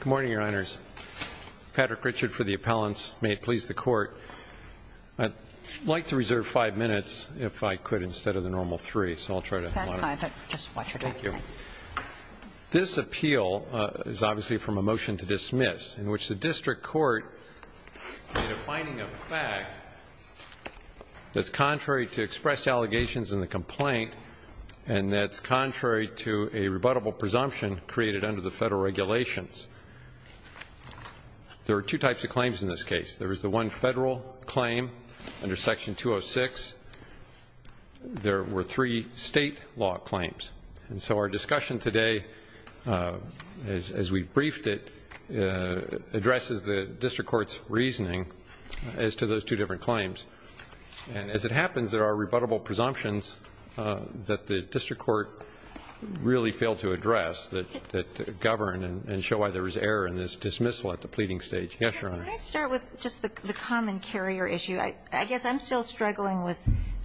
Good morning, Your Honors. Patrick Richard for the appellants. May it please the Court. I'd like to reserve five minutes, if I could, instead of the normal three, so I'll try to monitor. That's fine. Just watch your time. Thank you. This appeal is obviously from a motion to dismiss, in which the district court made a finding of fact that's contrary to expressed allegations in the complaint and that's contrary to a rebuttable presumption created under the federal regulations. There are two types of claims in this case. There is the one federal claim under Section 206. There were three state law claims. And so our discussion today, as we briefed it, addresses the district court's reasoning as to those two different claims. And as it happens, there are rebuttable presumptions that the district court really failed to address that govern and show why there was error in this dismissal at the pleading stage. Yes, Your Honor. Let me start with just the common carrier issue. I guess I'm still struggling with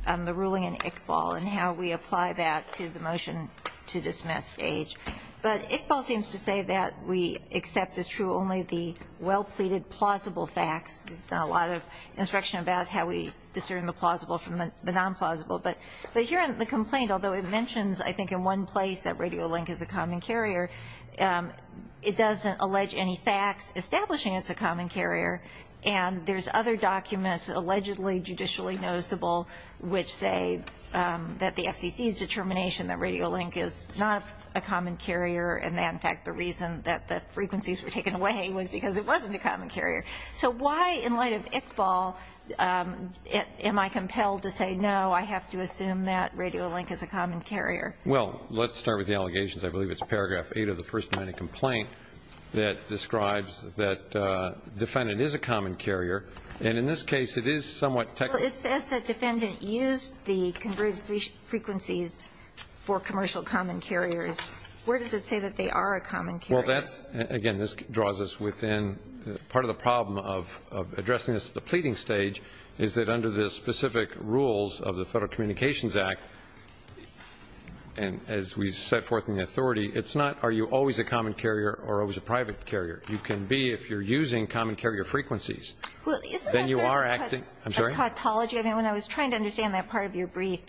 the ruling in Iqbal and how we apply that to the motion to dismiss stage. But Iqbal seems to say that we accept as true only the well-pleaded, plausible facts. There's not a lot of instruction about how we discern the plausible from the non-plausible. But here in the complaint, although it mentions, I think, in one place that Radiolink is a common carrier, it doesn't allege any facts establishing it's a common carrier. And there's other documents, allegedly judicially noticeable, which say that the FCC's determination that Radiolink is not a common carrier and that, in fact, the reason that the frequencies were taken away was because it wasn't a common carrier. So why, in light of Iqbal, am I compelled to say, no, I have to assume that Radiolink is a common carrier? Well, let's start with the allegations. I believe it's paragraph 8 of the first line of complaint that describes that defendant is a common carrier. And in this case, it is somewhat technical. Well, it says that defendant used the converted frequencies for commercial common carriers. Where does it say that they are a common carrier? Well, again, this draws us within part of the problem of addressing this at the pleading stage is that under the specific rules of the Federal Communications Act, and as we set forth in the authority, it's not are you always a common carrier or always a private carrier. You can be if you're using common carrier frequencies. Well, isn't that sort of a tautology? I mean, when I was trying to understand that part of your brief,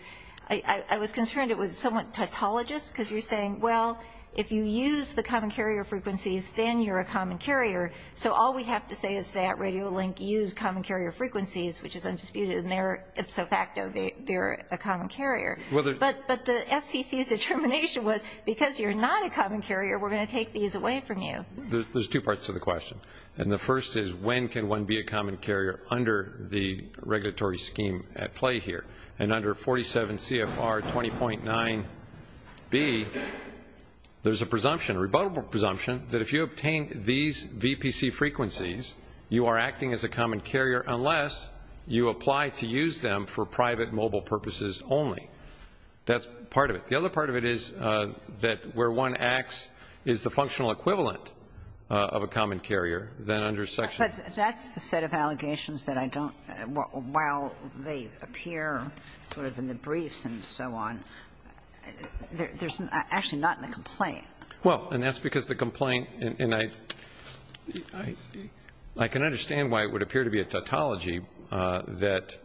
I was concerned it was somewhat tautologous because you're saying, well, if you use the common carrier frequencies, then you're a common carrier. So all we have to say is that Radiolink used common carrier frequencies, which is undisputed, and they're ipso facto, they're a common carrier. But the FCC's determination was because you're not a common carrier, we're going to take these away from you. There's two parts to the question. And the first is when can one be a common carrier under the regulatory scheme at play here? And under 47 CFR 20.9b, there's a presumption, a rebuttable presumption that if you obtain these VPC frequencies, you are acting as a common carrier unless you apply to use them for private mobile purposes only. That's part of it. The other part of it is that where one acts is the functional equivalent of a common carrier. But that's the set of allegations that I don't, while they appear sort of in the briefs and so on, there's actually not in the complaint. Well, and that's because the complaint, and I can understand why it would appear to be a tautology that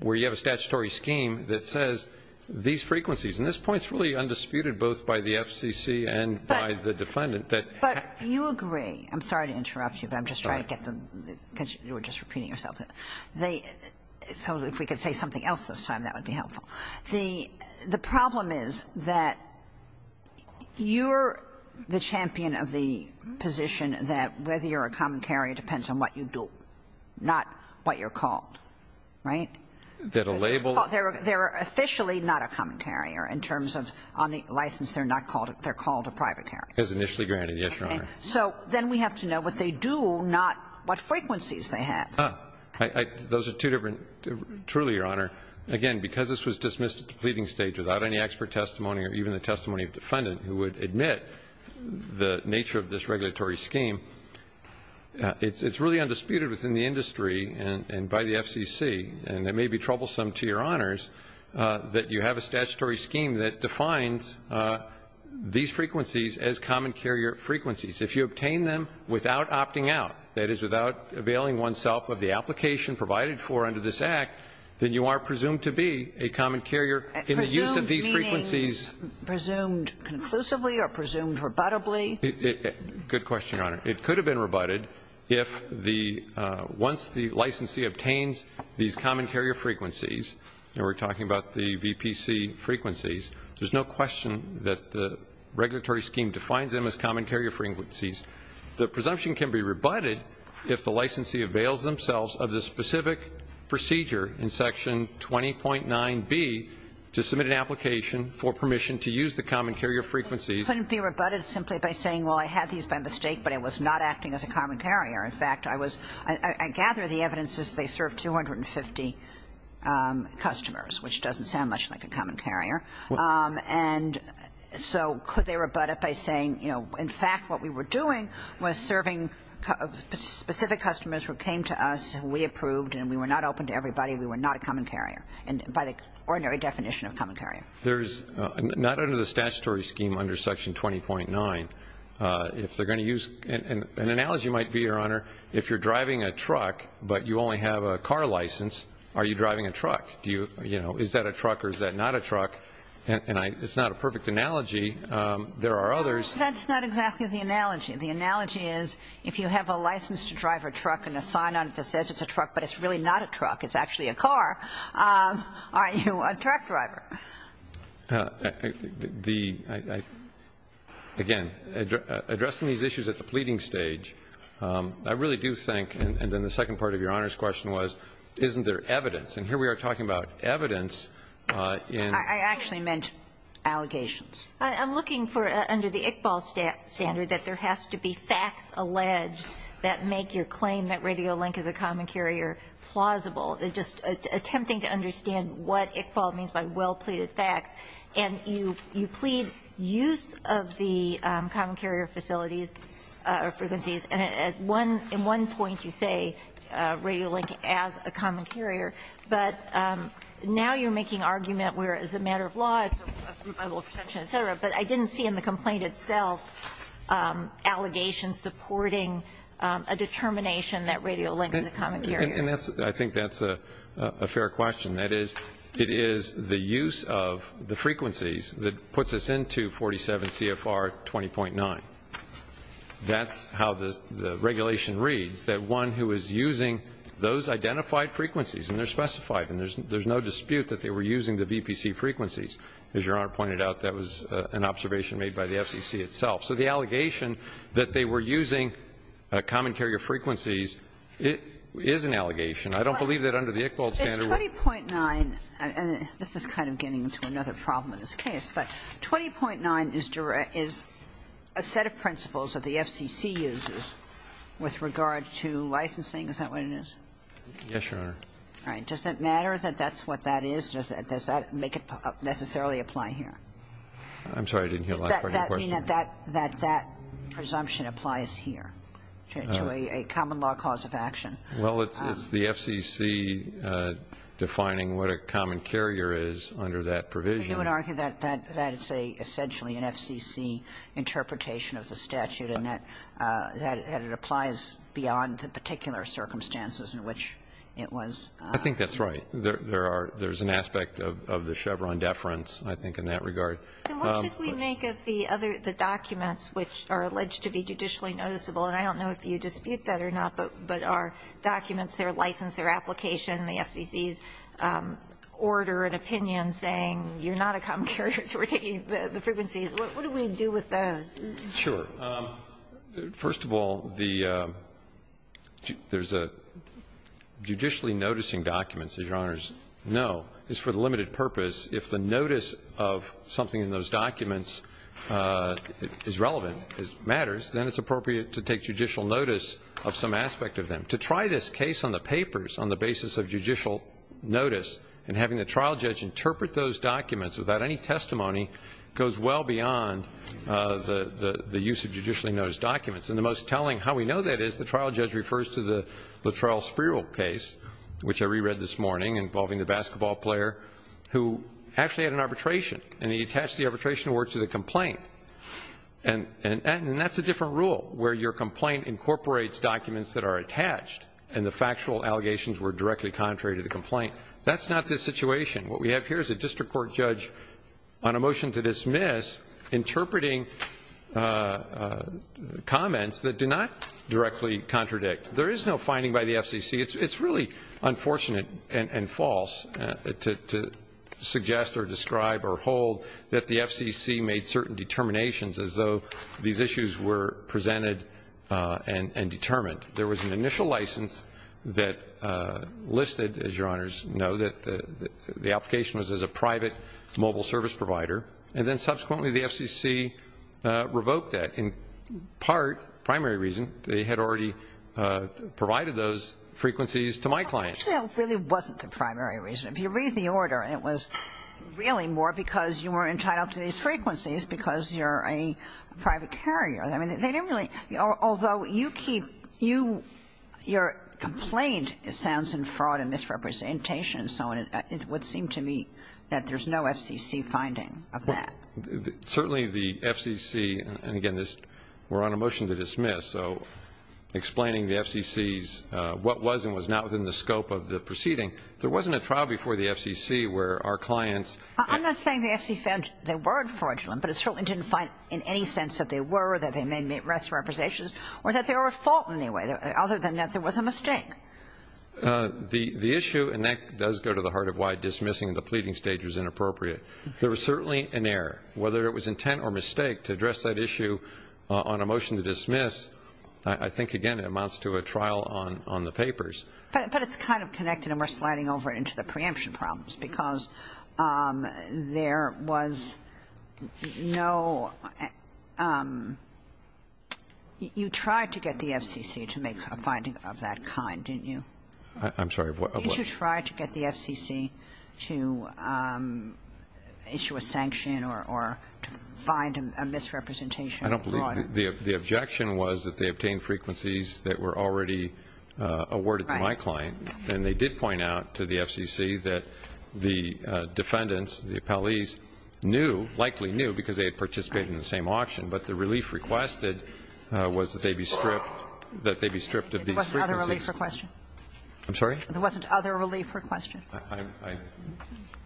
where you have a statutory scheme that says these frequencies and this point's really undisputed both by the FCC and by the defendant. But you agree, I'm sorry to interrupt you, but I'm just trying to get the, because you were just repeating yourself. So if we could say something else this time, that would be helpful. The problem is that you're the champion of the position that whether you're a common carrier depends on what you do, not what you're called. Right? That a label. They're officially not a common carrier in terms of on the license they're called a private carrier. As initially granted, yes, Your Honor. So then we have to know what they do, not what frequencies they have. Those are two different, truly, Your Honor. Again, because this was dismissed at the pleading stage without any expert testimony or even the testimony of the defendant who would admit the nature of this regulatory scheme, it's really undisputed within the industry and by the FCC, and it may be troublesome to Your Honors that you have a statutory scheme that defines these frequencies as common carrier frequencies. If you obtain them without opting out, that is, without availing oneself of the application provided for under this Act, then you are presumed to be a common carrier in the use of these frequencies. Presumed meaning, presumed conclusively or presumed rebuttably? Good question, Your Honor. It could have been rebutted if the, once the licensee obtains these common carrier frequencies, and we're talking about the VPC frequencies, there's no question that the regulatory scheme defines them as common carrier frequencies. The presumption can be rebutted if the licensee avails themselves of the specific procedure in Section 20.9B to submit an application for permission to use the common carrier frequencies. It couldn't be rebutted simply by saying, well, I had these by mistake, but it was not acting as a common carrier. In fact, I was, I gather the evidence is they serve 250 customers, which doesn't sound much like a common carrier. And so could they rebut it by saying, you know, in fact, what we were doing was serving specific customers who came to us who we approved and we were not open to everybody, we were not a common carrier, and by the ordinary definition of common carrier. There's, not under the statutory scheme under Section 20.9, if they're going to use, an analogy might be, Your Honor, if you're driving a truck but you only have a car license, are you driving a truck? Do you, you know, is that a truck or is that not a truck? And I, it's not a perfect analogy. There are others. That's not exactly the analogy. The analogy is if you have a license to drive a truck and a sign on it that says it's a truck but it's really not a truck, it's actually a car, are you a truck driver? The, again, addressing these issues at the pleading stage, I really do think, and then the second part of Your Honor's question was, isn't there evidence? And here we are talking about evidence in. I actually meant allegations. I'm looking for, under the Iqbal standard, that there has to be facts alleged that make your claim that Radiolink is a common carrier plausible. It's just attempting to understand what Iqbal means by well-pleaded facts. And you, you plead use of the common carrier facilities or frequencies. And at one, in one point you say Radiolink as a common carrier, but now you're making argument where it's a matter of law, it's a presumption, et cetera, but I didn't see in the complaint itself allegations supporting a determination that Radiolink is a common carrier. And that's, I think that's a fair question. That is, it is the use of the frequencies that puts us into 47 CFR 20.9. That's how the regulation reads, that one who is using those identified frequencies and they're specified and there's no dispute that they were using the VPC frequencies. As Your Honor pointed out, that was an observation made by the FCC itself. So the allegation that they were using common carrier frequencies is an allegation. I don't believe that under the Iqbal standard. 20.9, and this is kind of getting into another problem in this case, but 20.9 is a set of principles that the FCC uses with regard to licensing. Is that what it is? Yes, Your Honor. All right. Does it matter that that's what that is? Does that make it necessarily apply here? I'm sorry, I didn't hear the last part of your question. Does that mean that that presumption applies here to a common law cause of action? Well, it's the FCC defining what a common carrier is under that provision. But you would argue that that is essentially an FCC interpretation of the statute and that it applies beyond the particular circumstances in which it was. I think that's right. There's an aspect of the Chevron deference, I think, in that regard. Then what should we make of the documents which are alleged to be judicially noticeable? And I don't know if you dispute that or not, but our documents, their license, their application, the FCC's order and opinion saying you're not a common carrier so we're taking the frequencies. What do we do with those? Sure. First of all, there's a judicially noticing documents, as Your Honors know, is for the limited purpose. If the notice of something in those documents is relevant, matters, then it's appropriate to take judicial notice of some aspect of them. To try this case on the papers on the basis of judicial notice and having the trial judge interpret those documents without any testimony goes well beyond the use of judicially noticed documents. And the most telling how we know that is the trial judge refers to the Latrell Spiro case, which I reread this morning, involving the basketball player who actually had an arbitration and he attached the arbitration to the complaint. And that's a different rule where your complaint incorporates documents that are attached and the factual allegations were directly contrary to the complaint. That's not the situation. What we have here is a district court judge on a motion to dismiss interpreting comments that do not directly contradict. There is no finding by the FCC. It's really unfortunate and false to suggest or describe or hold that the FCC made certain determinations as though these issues were presented and determined. There was an initial license that listed, as Your Honors know, that the application was as a private mobile service provider, and then subsequently the FCC revoked that in part, primary reason, they had already provided those frequencies to my clients. Actually, it really wasn't the primary reason. If you read the order, it was really more because you were entitled to these frequencies because you're a private carrier. I mean, they didn't really, although you keep, you, your complaint sounds in fraud and misrepresentation and so on. It would seem to me that there's no FCC finding of that. Certainly the FCC, and again, we're on a motion to dismiss, so explaining the FCC's what was and was not within the scope of the proceeding. There wasn't a trial before the FCC where our clients ---- I'm not saying the FCC found they were fraudulent, but it certainly didn't find in any sense that they were or that they made misrepresentations or that they were at fault in any way, other than that there was a mistake. The issue, and that does go to the heart of why dismissing the pleading stage was inappropriate, there was certainly an error. Whether it was intent or mistake to address that issue on a motion to dismiss, I think, again, it amounts to a trial on the papers. But it's kind of connected, and we're sliding over into the preemption problems, because there was no ---- you tried to get the FCC to make a finding of that kind, didn't you? I'm sorry, what? You tried to get the FCC to issue a sanction or to find a misrepresentation of fraud. The objection was that they obtained frequencies that were already awarded to my client. Right. And they did point out to the FCC that the defendants, the appellees, knew, likely knew because they had participated in the same auction, but the relief requested was that they be stripped of these frequencies. There wasn't other relief requested? I'm sorry? There wasn't other relief requested?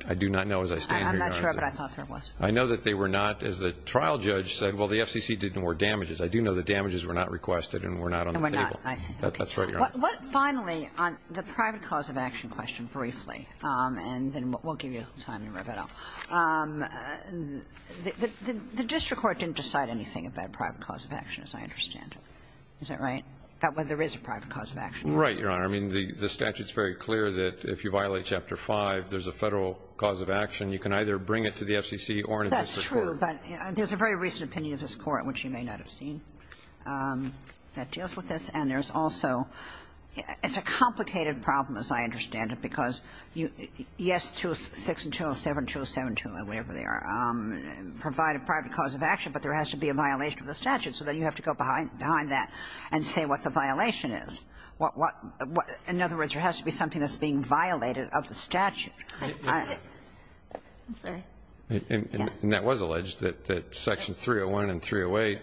I do not know as I stand here. I'm not sure, but I thought there was. I know that they were not. As the trial judge said, well, the FCC didn't award damages. I do know that damages were not requested and were not on the table. And were not. That's right, Your Honor. Finally, on the private cause of action question briefly, and then we'll give you time to wrap it up. The district court didn't decide anything about private cause of action, as I understand it. Is that right? About whether there is a private cause of action? Right, Your Honor. I mean, the statute is very clear that if you violate Chapter 5, there's a Federal private cause of action. You can either bring it to the FCC or to the district court. That's true, but there's a very recent opinion of this Court, which you may not have seen, that deals with this. And there's also – it's a complicated problem, as I understand it, because you – yes, 206 and 207, 207 and 208, whatever they are, provide a private cause of action, but there has to be a violation of the statute. So then you have to go behind that and say what the violation is. In other words, there has to be something that's being violated of the statute. I'm sorry. And that was alleged, that Sections 301 and 308.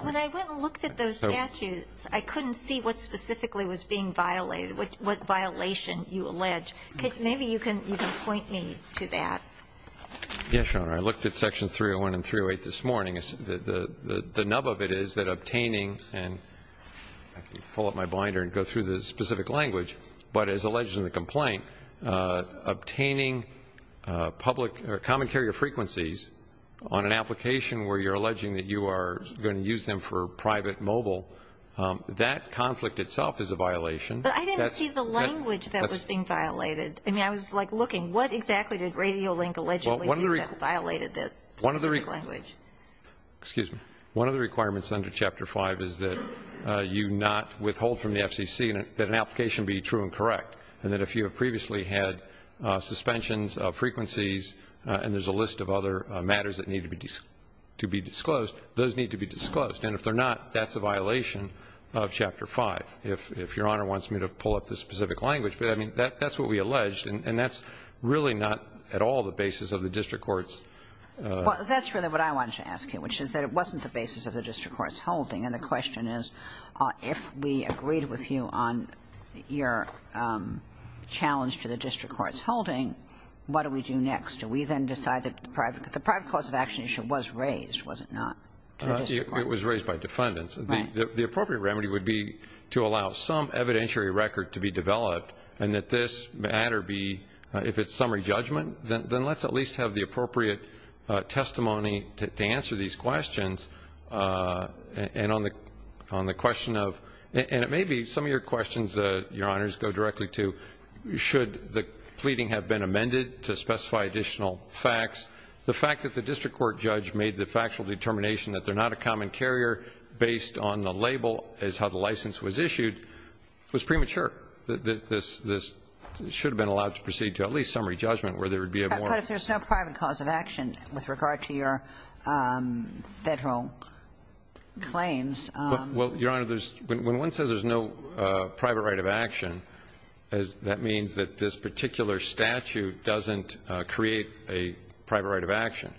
When I went and looked at those statutes, I couldn't see what specifically was being violated, what violation you allege. Maybe you can point me to that. Yes, Your Honor. I looked at Sections 301 and 308 this morning. The nub of it is that obtaining – and I can pull up my binder and go through the specific language, but as alleged in the complaint, obtaining public or common carrier frequencies on an application where you're alleging that you are going to use them for private mobile, that conflict itself is a violation. But I didn't see the language that was being violated. I mean, I was, like, looking. What exactly did Radiolink allegedly do that violated this specific language? Excuse me. One of the requirements under Chapter 5 is that you not withhold from the FCC that an application be true and correct, and that if you have previously had suspensions of frequencies and there's a list of other matters that need to be disclosed, those need to be disclosed. And if they're not, that's a violation of Chapter 5, if Your Honor wants me to pull up the specific language. But, I mean, that's what we alleged, and that's really not at all the basis of the district court's – Well, that's really what I wanted to ask you, which is that it wasn't the basis of the district court's holding. And the question is, if we agreed with you on your challenge to the district court's holding, what do we do next? Do we then decide that the private cause of action issue was raised, was it not, to the district court? It was raised by defendants. Right. The appropriate remedy would be to allow some evidentiary record to be developed and that this matter be, if it's summary judgment, then let's at least have the appropriate testimony to answer these questions. And on the question of – and it may be some of your questions, Your Honors, go directly to should the pleading have been amended to specify additional facts. The fact that the district court judge made the factual determination that they're not a common carrier based on the label as how the license was issued was premature. This should have been allowed to proceed to at least summary judgment where there would be a more – But if there's no private cause of action with regard to your Federal claims – Well, Your Honor, when one says there's no private right of action, that means that this particular statute doesn't create a private right of action.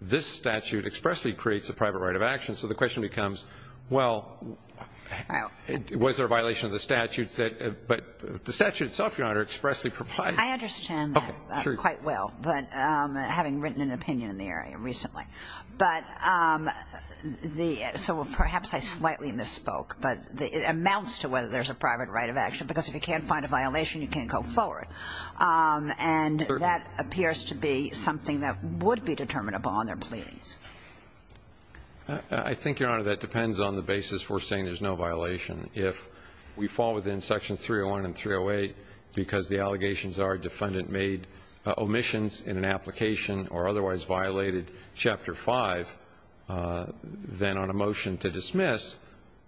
This statute expressly creates a private right of action. So the question becomes, well, was there a violation of the statutes that – but the statute itself, Your Honor, expressly provides – I understand that quite well, but having written an opinion in the area recently. But the – so perhaps I slightly misspoke, but it amounts to whether there's a private right of action, because if you can't find a violation, you can't go forward. And that appears to be something that would be determinable on their pleadings. I think, Your Honor, that depends on the basis we're saying there's no violation. If we fall within Sections 301 and 308 because the allegations are defendant made omissions in an application or otherwise violated Chapter 5, then on a motion to dismiss,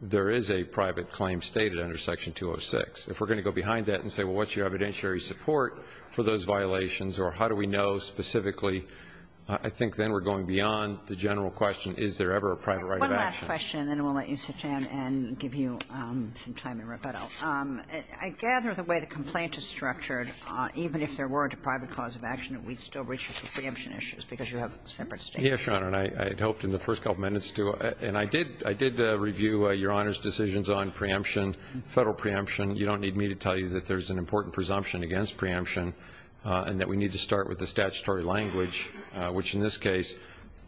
there is a private claim stated under Section 206. If we're going to go behind that and say, well, what's your evidentiary support for those violations or how do we know specifically, I think then we're going beyond the general question, is there ever a private right of action. Kagan. And then we'll let you sit down and give you some time in rebuttal. I gather the way the complaint is structured, even if there were a private cause of action, that we'd still reach for preemption issues because you have separate statements. Yes, Your Honor, and I had hoped in the first couple minutes to – and I did review Your Honor's decisions on preemption, Federal preemption. You don't need me to tell you that there's an important presumption against preemption and that we need to start with the statutory language, which in this case,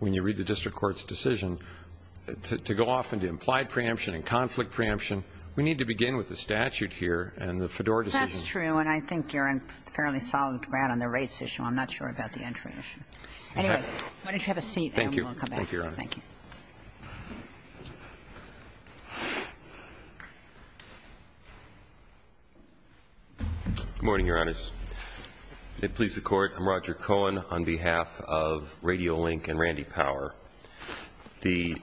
when you look at the district court's decision to go off into implied preemption and conflict preemption, we need to begin with the statute here and the Fedora decision. That's true, and I think you're on fairly solid ground on the rates issue. I'm not sure about the entry issue. Okay. Anyway, why don't you have a seat and we'll come back. Thank you, Your Honor. Thank you. Good morning, Your Honors. May it please the Court, I'm Roger Cohen on behalf of Radio Link and Randy Power. The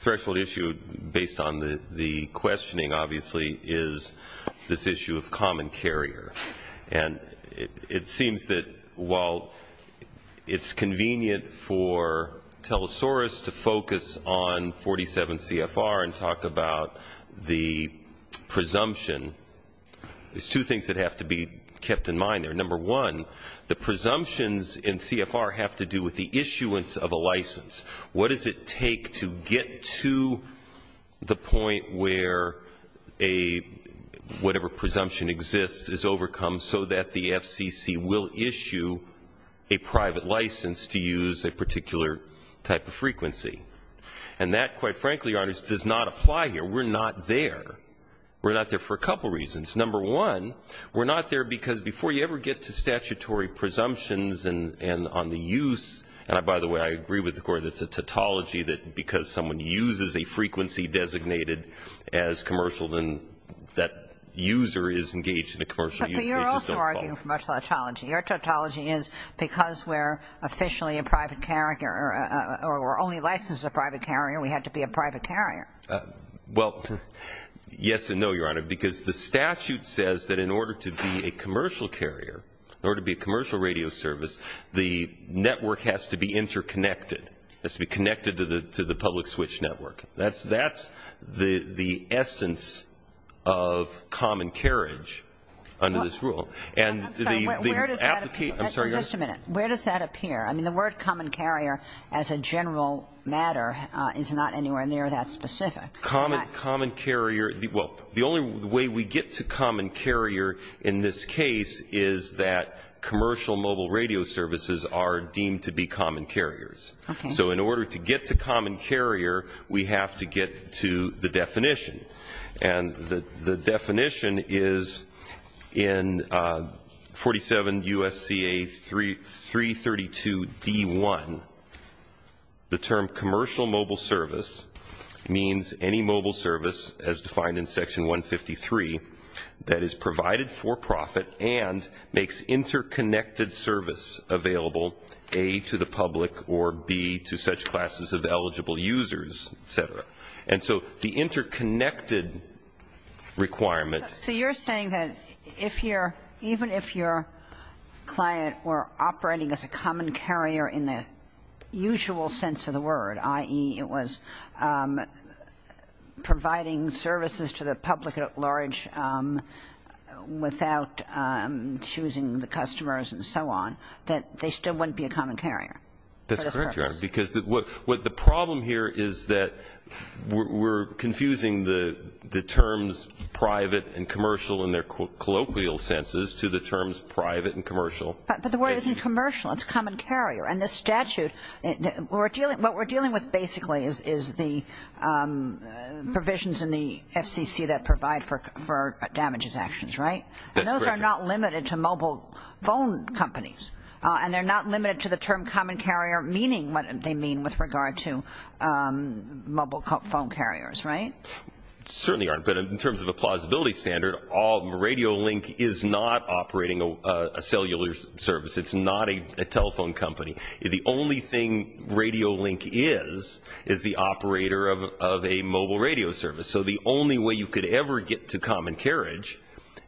threshold issue, based on the questioning, obviously, is this issue of common carrier. And it seems that while it's convenient for Telesaurus to focus on 47 CFR and talk about the presumption, there's two things that have to be kept in mind there. Number one, the presumptions in CFR have to do with the issuance of a license. What does it take to get to the point where whatever presumption exists is overcome so that the FCC will issue a private license to use a particular type of frequency? And that, quite frankly, Your Honors, does not apply here. We're not there. We're not there for a couple reasons. Number one, we're not there because before you ever get to statutory presumptions and on the use, and by the way, I agree with the Court, it's a tautology that because someone uses a frequency designated as commercial, then that user is engaged in a commercial use. But you're also arguing commercial tautology. Your tautology is because we're officially a private carrier, or we're only licensed as a private carrier, we have to be a private carrier. Well, yes and no, Your Honor, because the statute says that in order to be a commercial carrier, in order to be a commercial radio service, the network has to be interconnected. It has to be connected to the public switch network. That's the essence of common carriage under this rule. And the application of the public switch network has to be interconnected. I'm sorry, Your Honor. Where does that appear? I mean, the word common carrier as a general matter is not anywhere near that specific. Common carrier, well, the only way we get to common carrier in this case is that commercial mobile radio services are deemed to be common carriers. Okay. So in order to get to common carrier, we have to get to the definition. And the definition is in 47 U.S.C.A. 332D1, the term commercial mobile service means any mobile service as defined in Section 153 that is provided for profit and makes interconnected service available, A, to the public or, B, to such classes of eligible users, et cetera. And so the interconnected requirement So you're saying that even if your client were operating as a common carrier in the usual sense of the word, i.e., it was providing services to the public at large without choosing the customers and so on, that they still wouldn't be a common carrier? That's correct, Your Honor. Because what the problem here is that we're confusing the terms private and commercial in their colloquial senses to the terms private and commercial. But the word isn't commercial. It's common carrier. And the statute, what we're dealing with basically is the provisions in the FCC that provide for damages actions, right? That's correct. And those are not limited to mobile phone companies. And they're not limited to the term common carrier, meaning what they mean with regard to mobile phone carriers, right? Certainly, Your Honor. But in terms of a plausibility standard, Radio Link is not operating a cellular service. It's not a telephone company. The only thing Radio Link is is the operator of a mobile radio service. So the only way you could ever get to common carriage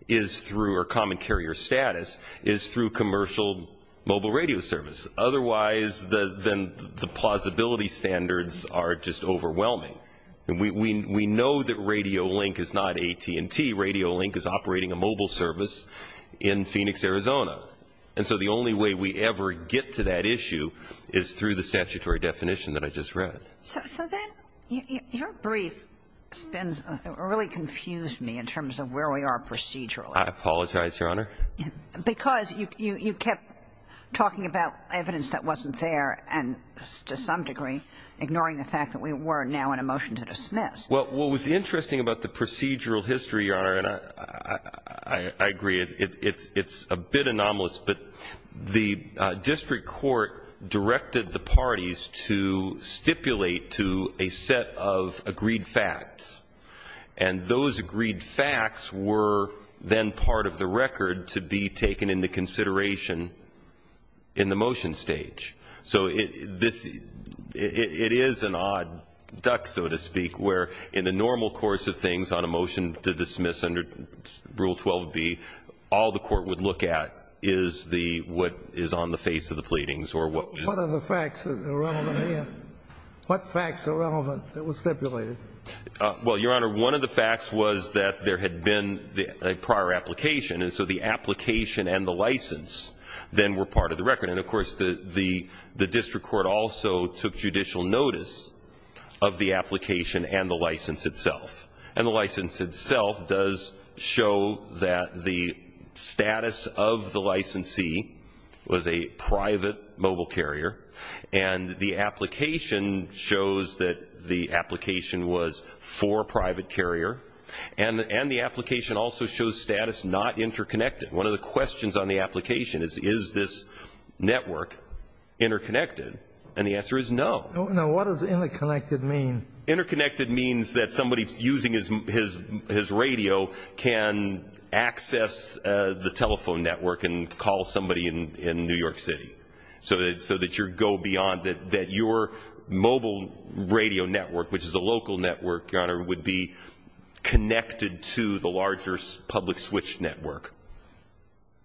is through, or common carrier status, is through commercial mobile radio service. Otherwise, then the plausibility standards are just overwhelming. And we know that Radio Link is not AT&T. Radio Link is operating a mobile service in Phoenix, Arizona. And so the only way we ever get to that issue is through the statutory definition that I just read. So then your brief really confused me in terms of where we are procedurally. I apologize, Your Honor. Because you kept talking about evidence that wasn't there and, to some degree, ignoring the fact that we were now in a motion to dismiss. Well, what was interesting about the procedural history, Your Honor, and I agree it's a bit anomalous, but the district court directed the parties to stipulate to a set of agreed facts. And those agreed facts were then part of the record to be taken into consideration in the motion stage. So it is an odd duck, so to speak, where in the normal course of things on a motion to dismiss under Rule 12b, all the court would look at is what is on the face of the pleadings or what was ---- What are the facts that are relevant here? What facts are relevant that were stipulated? Well, Your Honor, one of the facts was that there had been a prior application, and so the application and the license then were part of the record. And, of course, the district court also took judicial notice of the application and the license itself. And the license itself does show that the status of the licensee was a private mobile carrier, and the application shows that the application was for a private carrier, and the application also shows status not interconnected. One of the questions on the application is, is this network interconnected? And the answer is no. Now, what does interconnected mean? Interconnected means that somebody using his radio can access the telephone network and call somebody in New York City, so that you go beyond, that your mobile radio network, which is a local network, Your Honor, would be connected to the larger public switch network.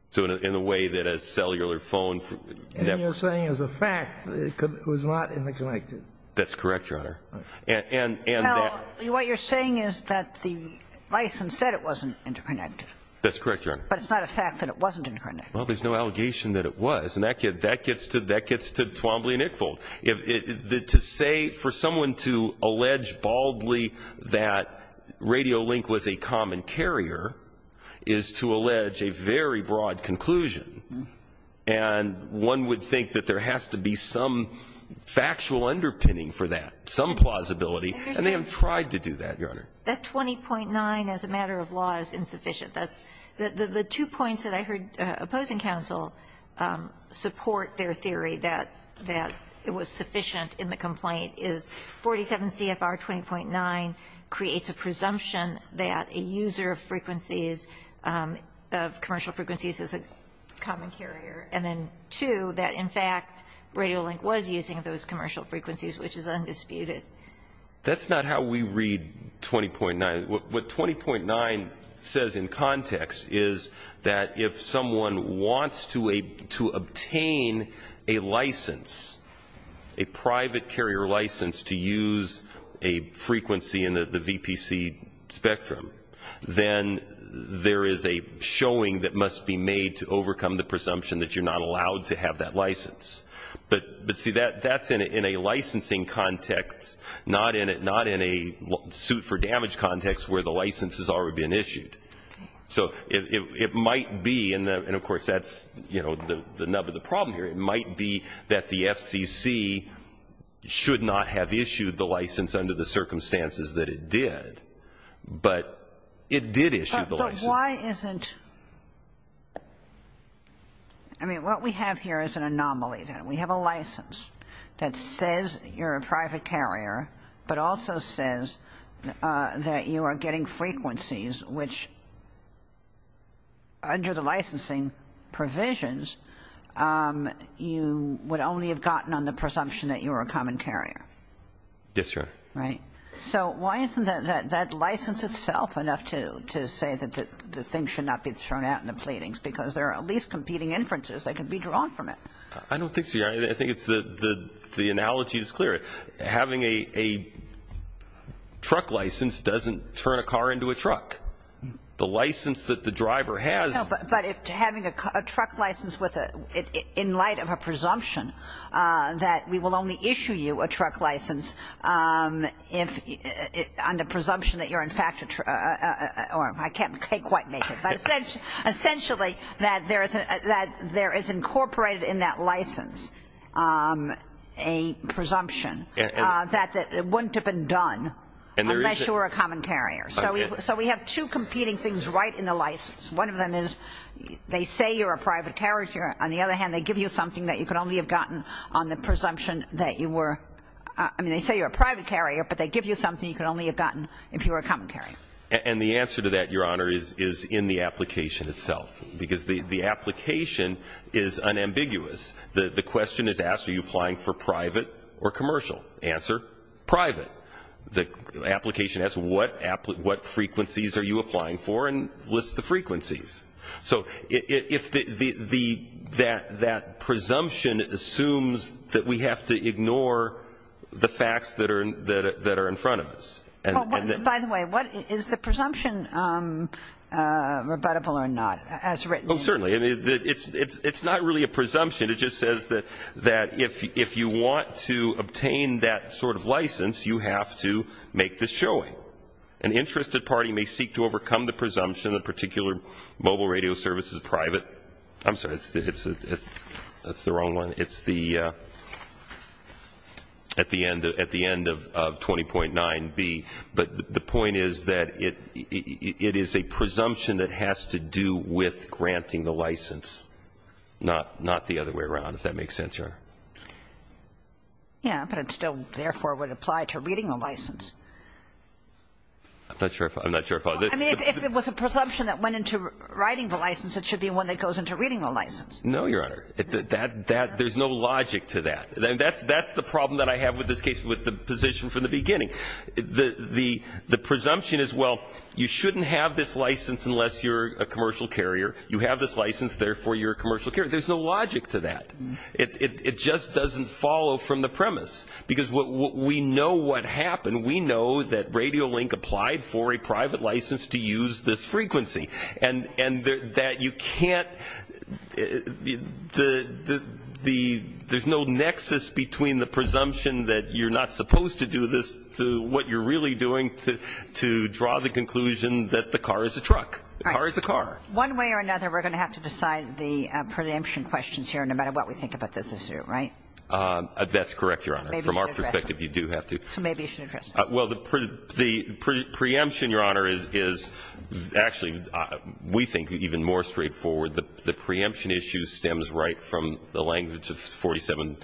So in a way that a cellular phone network ---- And you're saying as a fact it was not interconnected. That's correct, Your Honor. And that ---- Well, what you're saying is that the license said it wasn't interconnected. That's correct, Your Honor. But it's not a fact that it wasn't interconnected. Well, there's no allegation that it was. And that gets to Twombly and Ickfold. To say for someone to allege baldly that Radio Link was a common carrier is to allege a very broad conclusion. And one would think that there has to be some factual underpinning for that, some plausibility. And they have tried to do that, Your Honor. That 20.9 as a matter of law is insufficient. The two points that I heard opposing counsel support their theory that it was sufficient in the complaint is 47 CFR 20.9 creates a presumption that a user of frequencies, of commercial frequencies, is a common carrier. And then two, that in fact Radio Link was using those commercial frequencies, which is undisputed. That's not how we read 20.9. What 20.9 says in context is that if someone wants to obtain a license, a private carrier license to use a frequency in the VPC spectrum, then there is a showing that must be made to overcome the presumption that you're not allowed to have that license. But, see, that's in a licensing context, not in a suit for damage context where the license has already been issued. So it might be, and of course that's, you know, the nub of the problem here. It might be that the FCC should not have issued the license under the circumstances that it did. But it did issue the license. So why isn't, I mean, what we have here is an anomaly. We have a license that says you're a private carrier but also says that you are getting frequencies which, under the licensing provisions, you would only have gotten on the presumption that you were a common carrier. Yes, Your Honor. Right. So why isn't that license itself enough to say that the thing should not be thrown out in the pleadings? Because there are at least competing inferences that could be drawn from it. I don't think so, Your Honor. I think it's the analogy is clear. Having a truck license doesn't turn a car into a truck. The license that the driver has. No, but having a truck license in light of a presumption that we will only issue you a truck license on the presumption that you're, in fact, or I can't quite make it. But essentially that there is incorporated in that license a presumption that it wouldn't have been done unless you were a common carrier. So we have two competing things right in the license. One of them is they say you're a private carrier. On the other hand, they give you something that you could only have gotten on the presumption that you were, I mean, they say you're a private carrier, but they give you something you could only have gotten if you were a common carrier. And the answer to that, Your Honor, is in the application itself. Because the application is unambiguous. The question is asked, are you applying for private or commercial? Answer, private. The application asks what frequencies are you applying for and lists the frequencies. So if that presumption assumes that we have to ignore the facts that are in front of us. By the way, is the presumption rebuttable or not as written? Oh, certainly. It's not really a presumption. It just says that if you want to obtain that sort of license, you have to make the showing. An interested party may seek to overcome the presumption that a particular mobile radio service is private. I'm sorry, that's the wrong one. It's at the end of 20.9b. But the point is that it is a presumption that has to do with granting the license, not the other way around, if that makes sense, Your Honor. Yeah, but it still, therefore, would apply to reading the license. I'm not sure if I'm not sure. I mean, if it was a presumption that went into writing the license, it should be one that goes into reading the license. No, Your Honor. There's no logic to that. That's the problem that I have with this case, with the position from the beginning. The presumption is, well, you shouldn't have this license unless you're a commercial carrier. You have this license. Therefore, you're a commercial carrier. There's no logic to that. It just doesn't follow from the premise. Because we know what happened. We know that RadioLink applied for a private license to use this frequency. And that you can't, there's no nexus between the presumption that you're not supposed to do this to what you're really doing to draw the conclusion that the car is a truck, the car is a car. One way or another, we're going to have to decide the preemption questions here, no matter what we think about this issue, right? That's correct, Your Honor. Maybe you should address it. From our perspective, you do have to. So maybe you should address it. Well, the preemption, Your Honor, is actually, we think, even more straightforward. The preemption issue stems right from the language of 47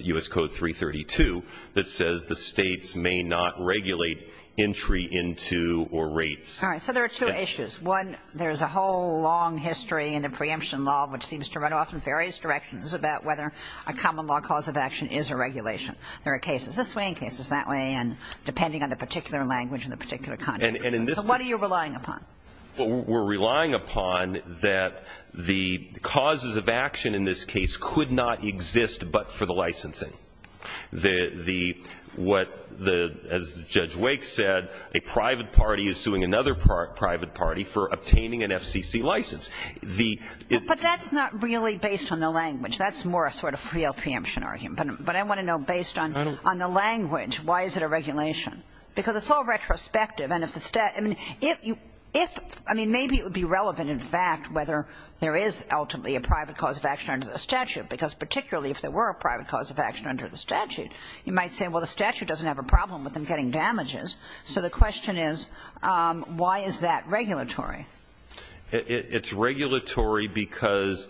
U.S. Code 332 that says the States may not regulate entry into or rates. All right. So there are two issues. One, there's a whole long history in the preemption law, which seems to run off in various directions, about whether a common law cause of action is a regulation. There are cases this way and cases that way, and depending on the particular language and the particular context. So what are you relying upon? Well, we're relying upon that the causes of action in this case could not exist but for the licensing. As Judge Wake said, a private party is suing another private party for obtaining an FCC license. But that's not really based on the language. That's more a sort of real preemption argument. But I want to know, based on the language, why is it a regulation? Because it's all retrospective. I mean, maybe it would be relevant, in fact, whether there is ultimately a private cause of action under the statute, because particularly if there were a private cause of action under the statute, you might say, well, the statute doesn't have a problem with them getting damages. So the question is, why is that regulatory? It's regulatory because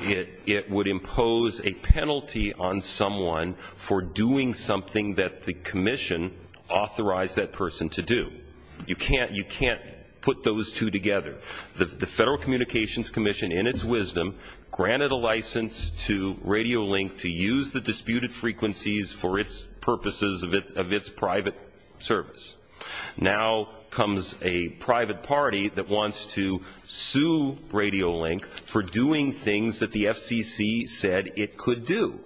it would impose a penalty on someone for doing something that the commission authorized that person to do. You can't put those two together. The Federal Communications Commission, in its wisdom, granted a license to RadioLink to use the disputed frequencies for its purposes of its private service. Now comes a private party that wants to sue RadioLink for doing things that the FCC said it could do.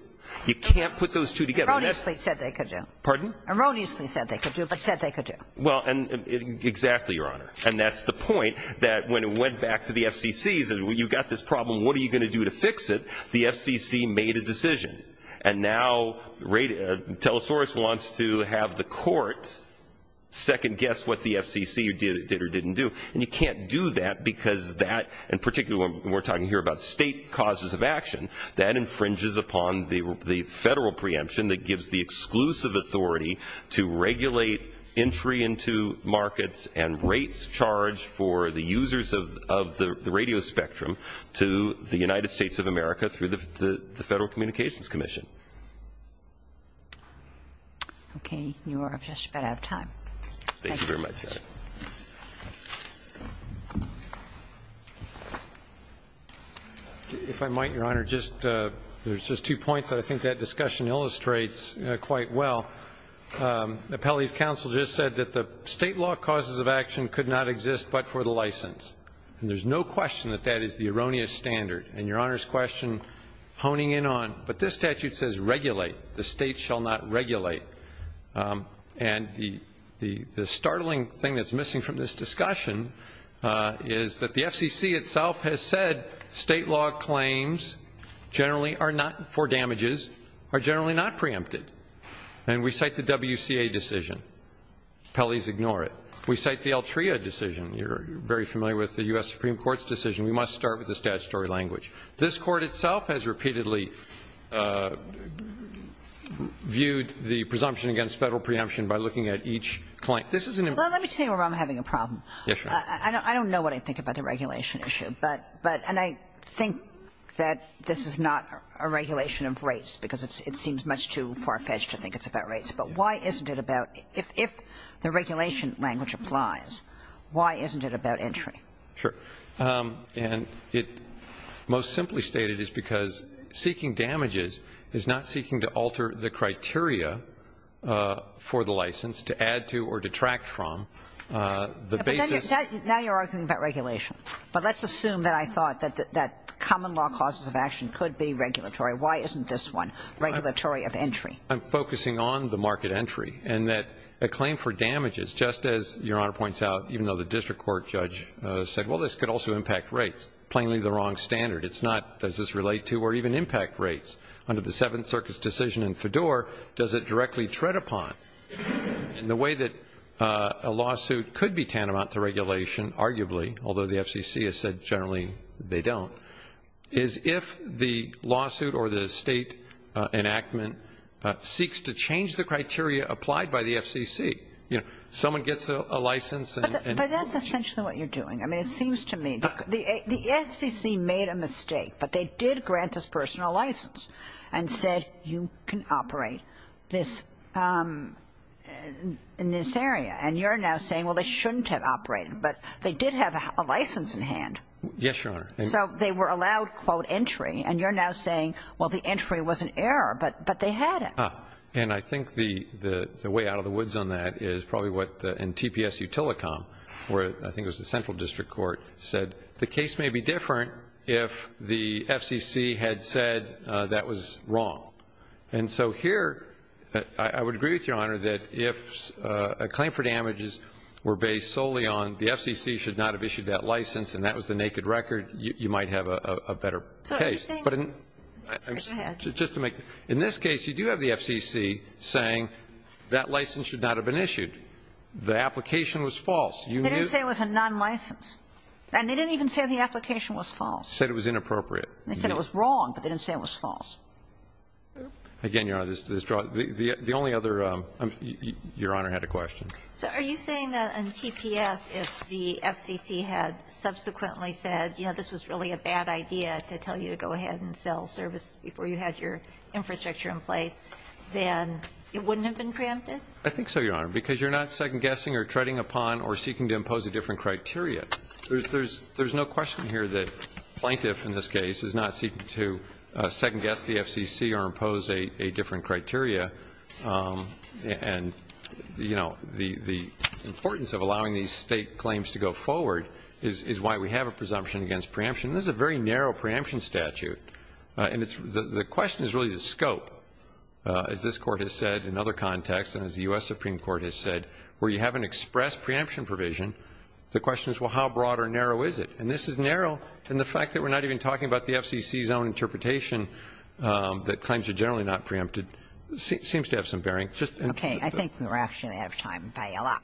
You can't put those two together. Erroneously said they could do. Pardon? Erroneously said they could do, but said they could do. Well, exactly, Your Honor. And that's the point, that when it went back to the FCC, you've got this problem, what are you going to do to fix it? The FCC made a decision. And now Telesaurus wants to have the court second-guess what the FCC did or didn't do. And you can't do that because that, and particularly when we're talking here about state causes of action, that infringes upon the Federal preemption that gives the exclusive authority to regulate entry into markets and rates charged for the users of the radio spectrum to the United States of America through the Federal Communications Commission. Okay. You are just about out of time. Thank you very much, Your Honor. If I might, Your Honor, just, there's just two points that I think that discussion illustrates quite well. Appellee's counsel just said that the state law causes of action could not exist but for the license. And there's no question that that is the erroneous standard. And Your Honor's question honing in on, but this statute says regulate. The state shall not regulate. And the startling thing that's missing from this discussion is that the FCC itself has said state law claims generally are not for damages, are generally not preempted. And we cite the WCA decision. Appellee's ignore it. We cite the Altria decision. You're very familiar with the U.S. Supreme Court's decision. We must start with the statutory language. This Court itself has repeatedly viewed the presumption against Federal preemption by looking at each claim. This is an important point. Well, let me tell you where I'm having a problem. Yes, Your Honor. I don't know what I think about the regulation issue. And I think that this is not a regulation of rates because it seems much too far-fetched to think it's about rates. But why isn't it about, if the regulation language applies, why isn't it about entry? Sure. And it most simply stated is because seeking damages is not seeking to alter the criteria for the license to add to or detract from. But now you're arguing about regulation. But let's assume that I thought that common law causes of action could be regulatory. Why isn't this one regulatory of entry? I'm focusing on the market entry and that a claim for damages, just as Your Honor points out, even though the district court judge said, well, this could also impact rates, plainly the wrong standard. It's not, does this relate to or even impact rates? Under the Seventh Circus decision in Fedor, does it directly tread upon? And the way that a lawsuit could be tantamount to regulation, arguably, although the FCC has said generally they don't, is if the lawsuit or the state enactment seeks to change the criteria applied by the FCC. You know, someone gets a license and. But that's essentially what you're doing. I mean, it seems to me the FCC made a mistake. But they did grant this person a license and said you can operate this in this area. And you're now saying, well, they shouldn't have operated. But they did have a license in hand. Yes, Your Honor. So they were allowed, quote, entry. And you're now saying, well, the entry was an error. But they had it. Ah, and I think the way out of the woods on that is probably what, in TPSU Telecom, where I think it was the Central District Court, said the case may be different if the FCC had said that was wrong. And so here, I would agree with Your Honor that if a claim for damages were based solely on the FCC should not have issued that license and that was the naked record, you might have a better case. Go ahead. In this case, you do have the FCC saying that license should not have been issued. The application was false. They didn't say it was a non-license. And they didn't even say the application was false. Said it was inappropriate. They said it was wrong. But they didn't say it was false. Again, Your Honor, the only other Your Honor had a question. So are you saying that in TPS, if the FCC had subsequently said, you know, this was really a bad idea to tell you to go ahead and sell service before you had your infrastructure in place, then it wouldn't have been preempted? I think so, Your Honor, because you're not second-guessing or treading upon or seeking to impose a different criteria. There's no question here that Plaintiff, in this case, is not seeking to second-guess the FCC or impose a different criteria. And, you know, the importance of allowing these state claims to go forward is why we have a presumption against preemption. And this is a very narrow preemption statute. And the question is really the scope, as this Court has said in other contexts and as the U.S. Supreme Court has said, where you haven't expressed preemption provision. The question is, well, how broad or narrow is it? And this is narrow in the fact that we're not even talking about the FCC's own interpretation that claims are generally not preempted. It seems to have some bearing. Okay. I think we're actually out of time. Bye y'all.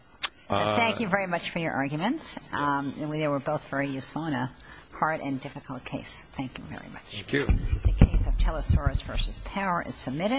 Thank you very much for your arguments. They were both very useful and a hard and difficult case. Thank you very much. Thank you. The case of Telesaurus v. Power is submitted.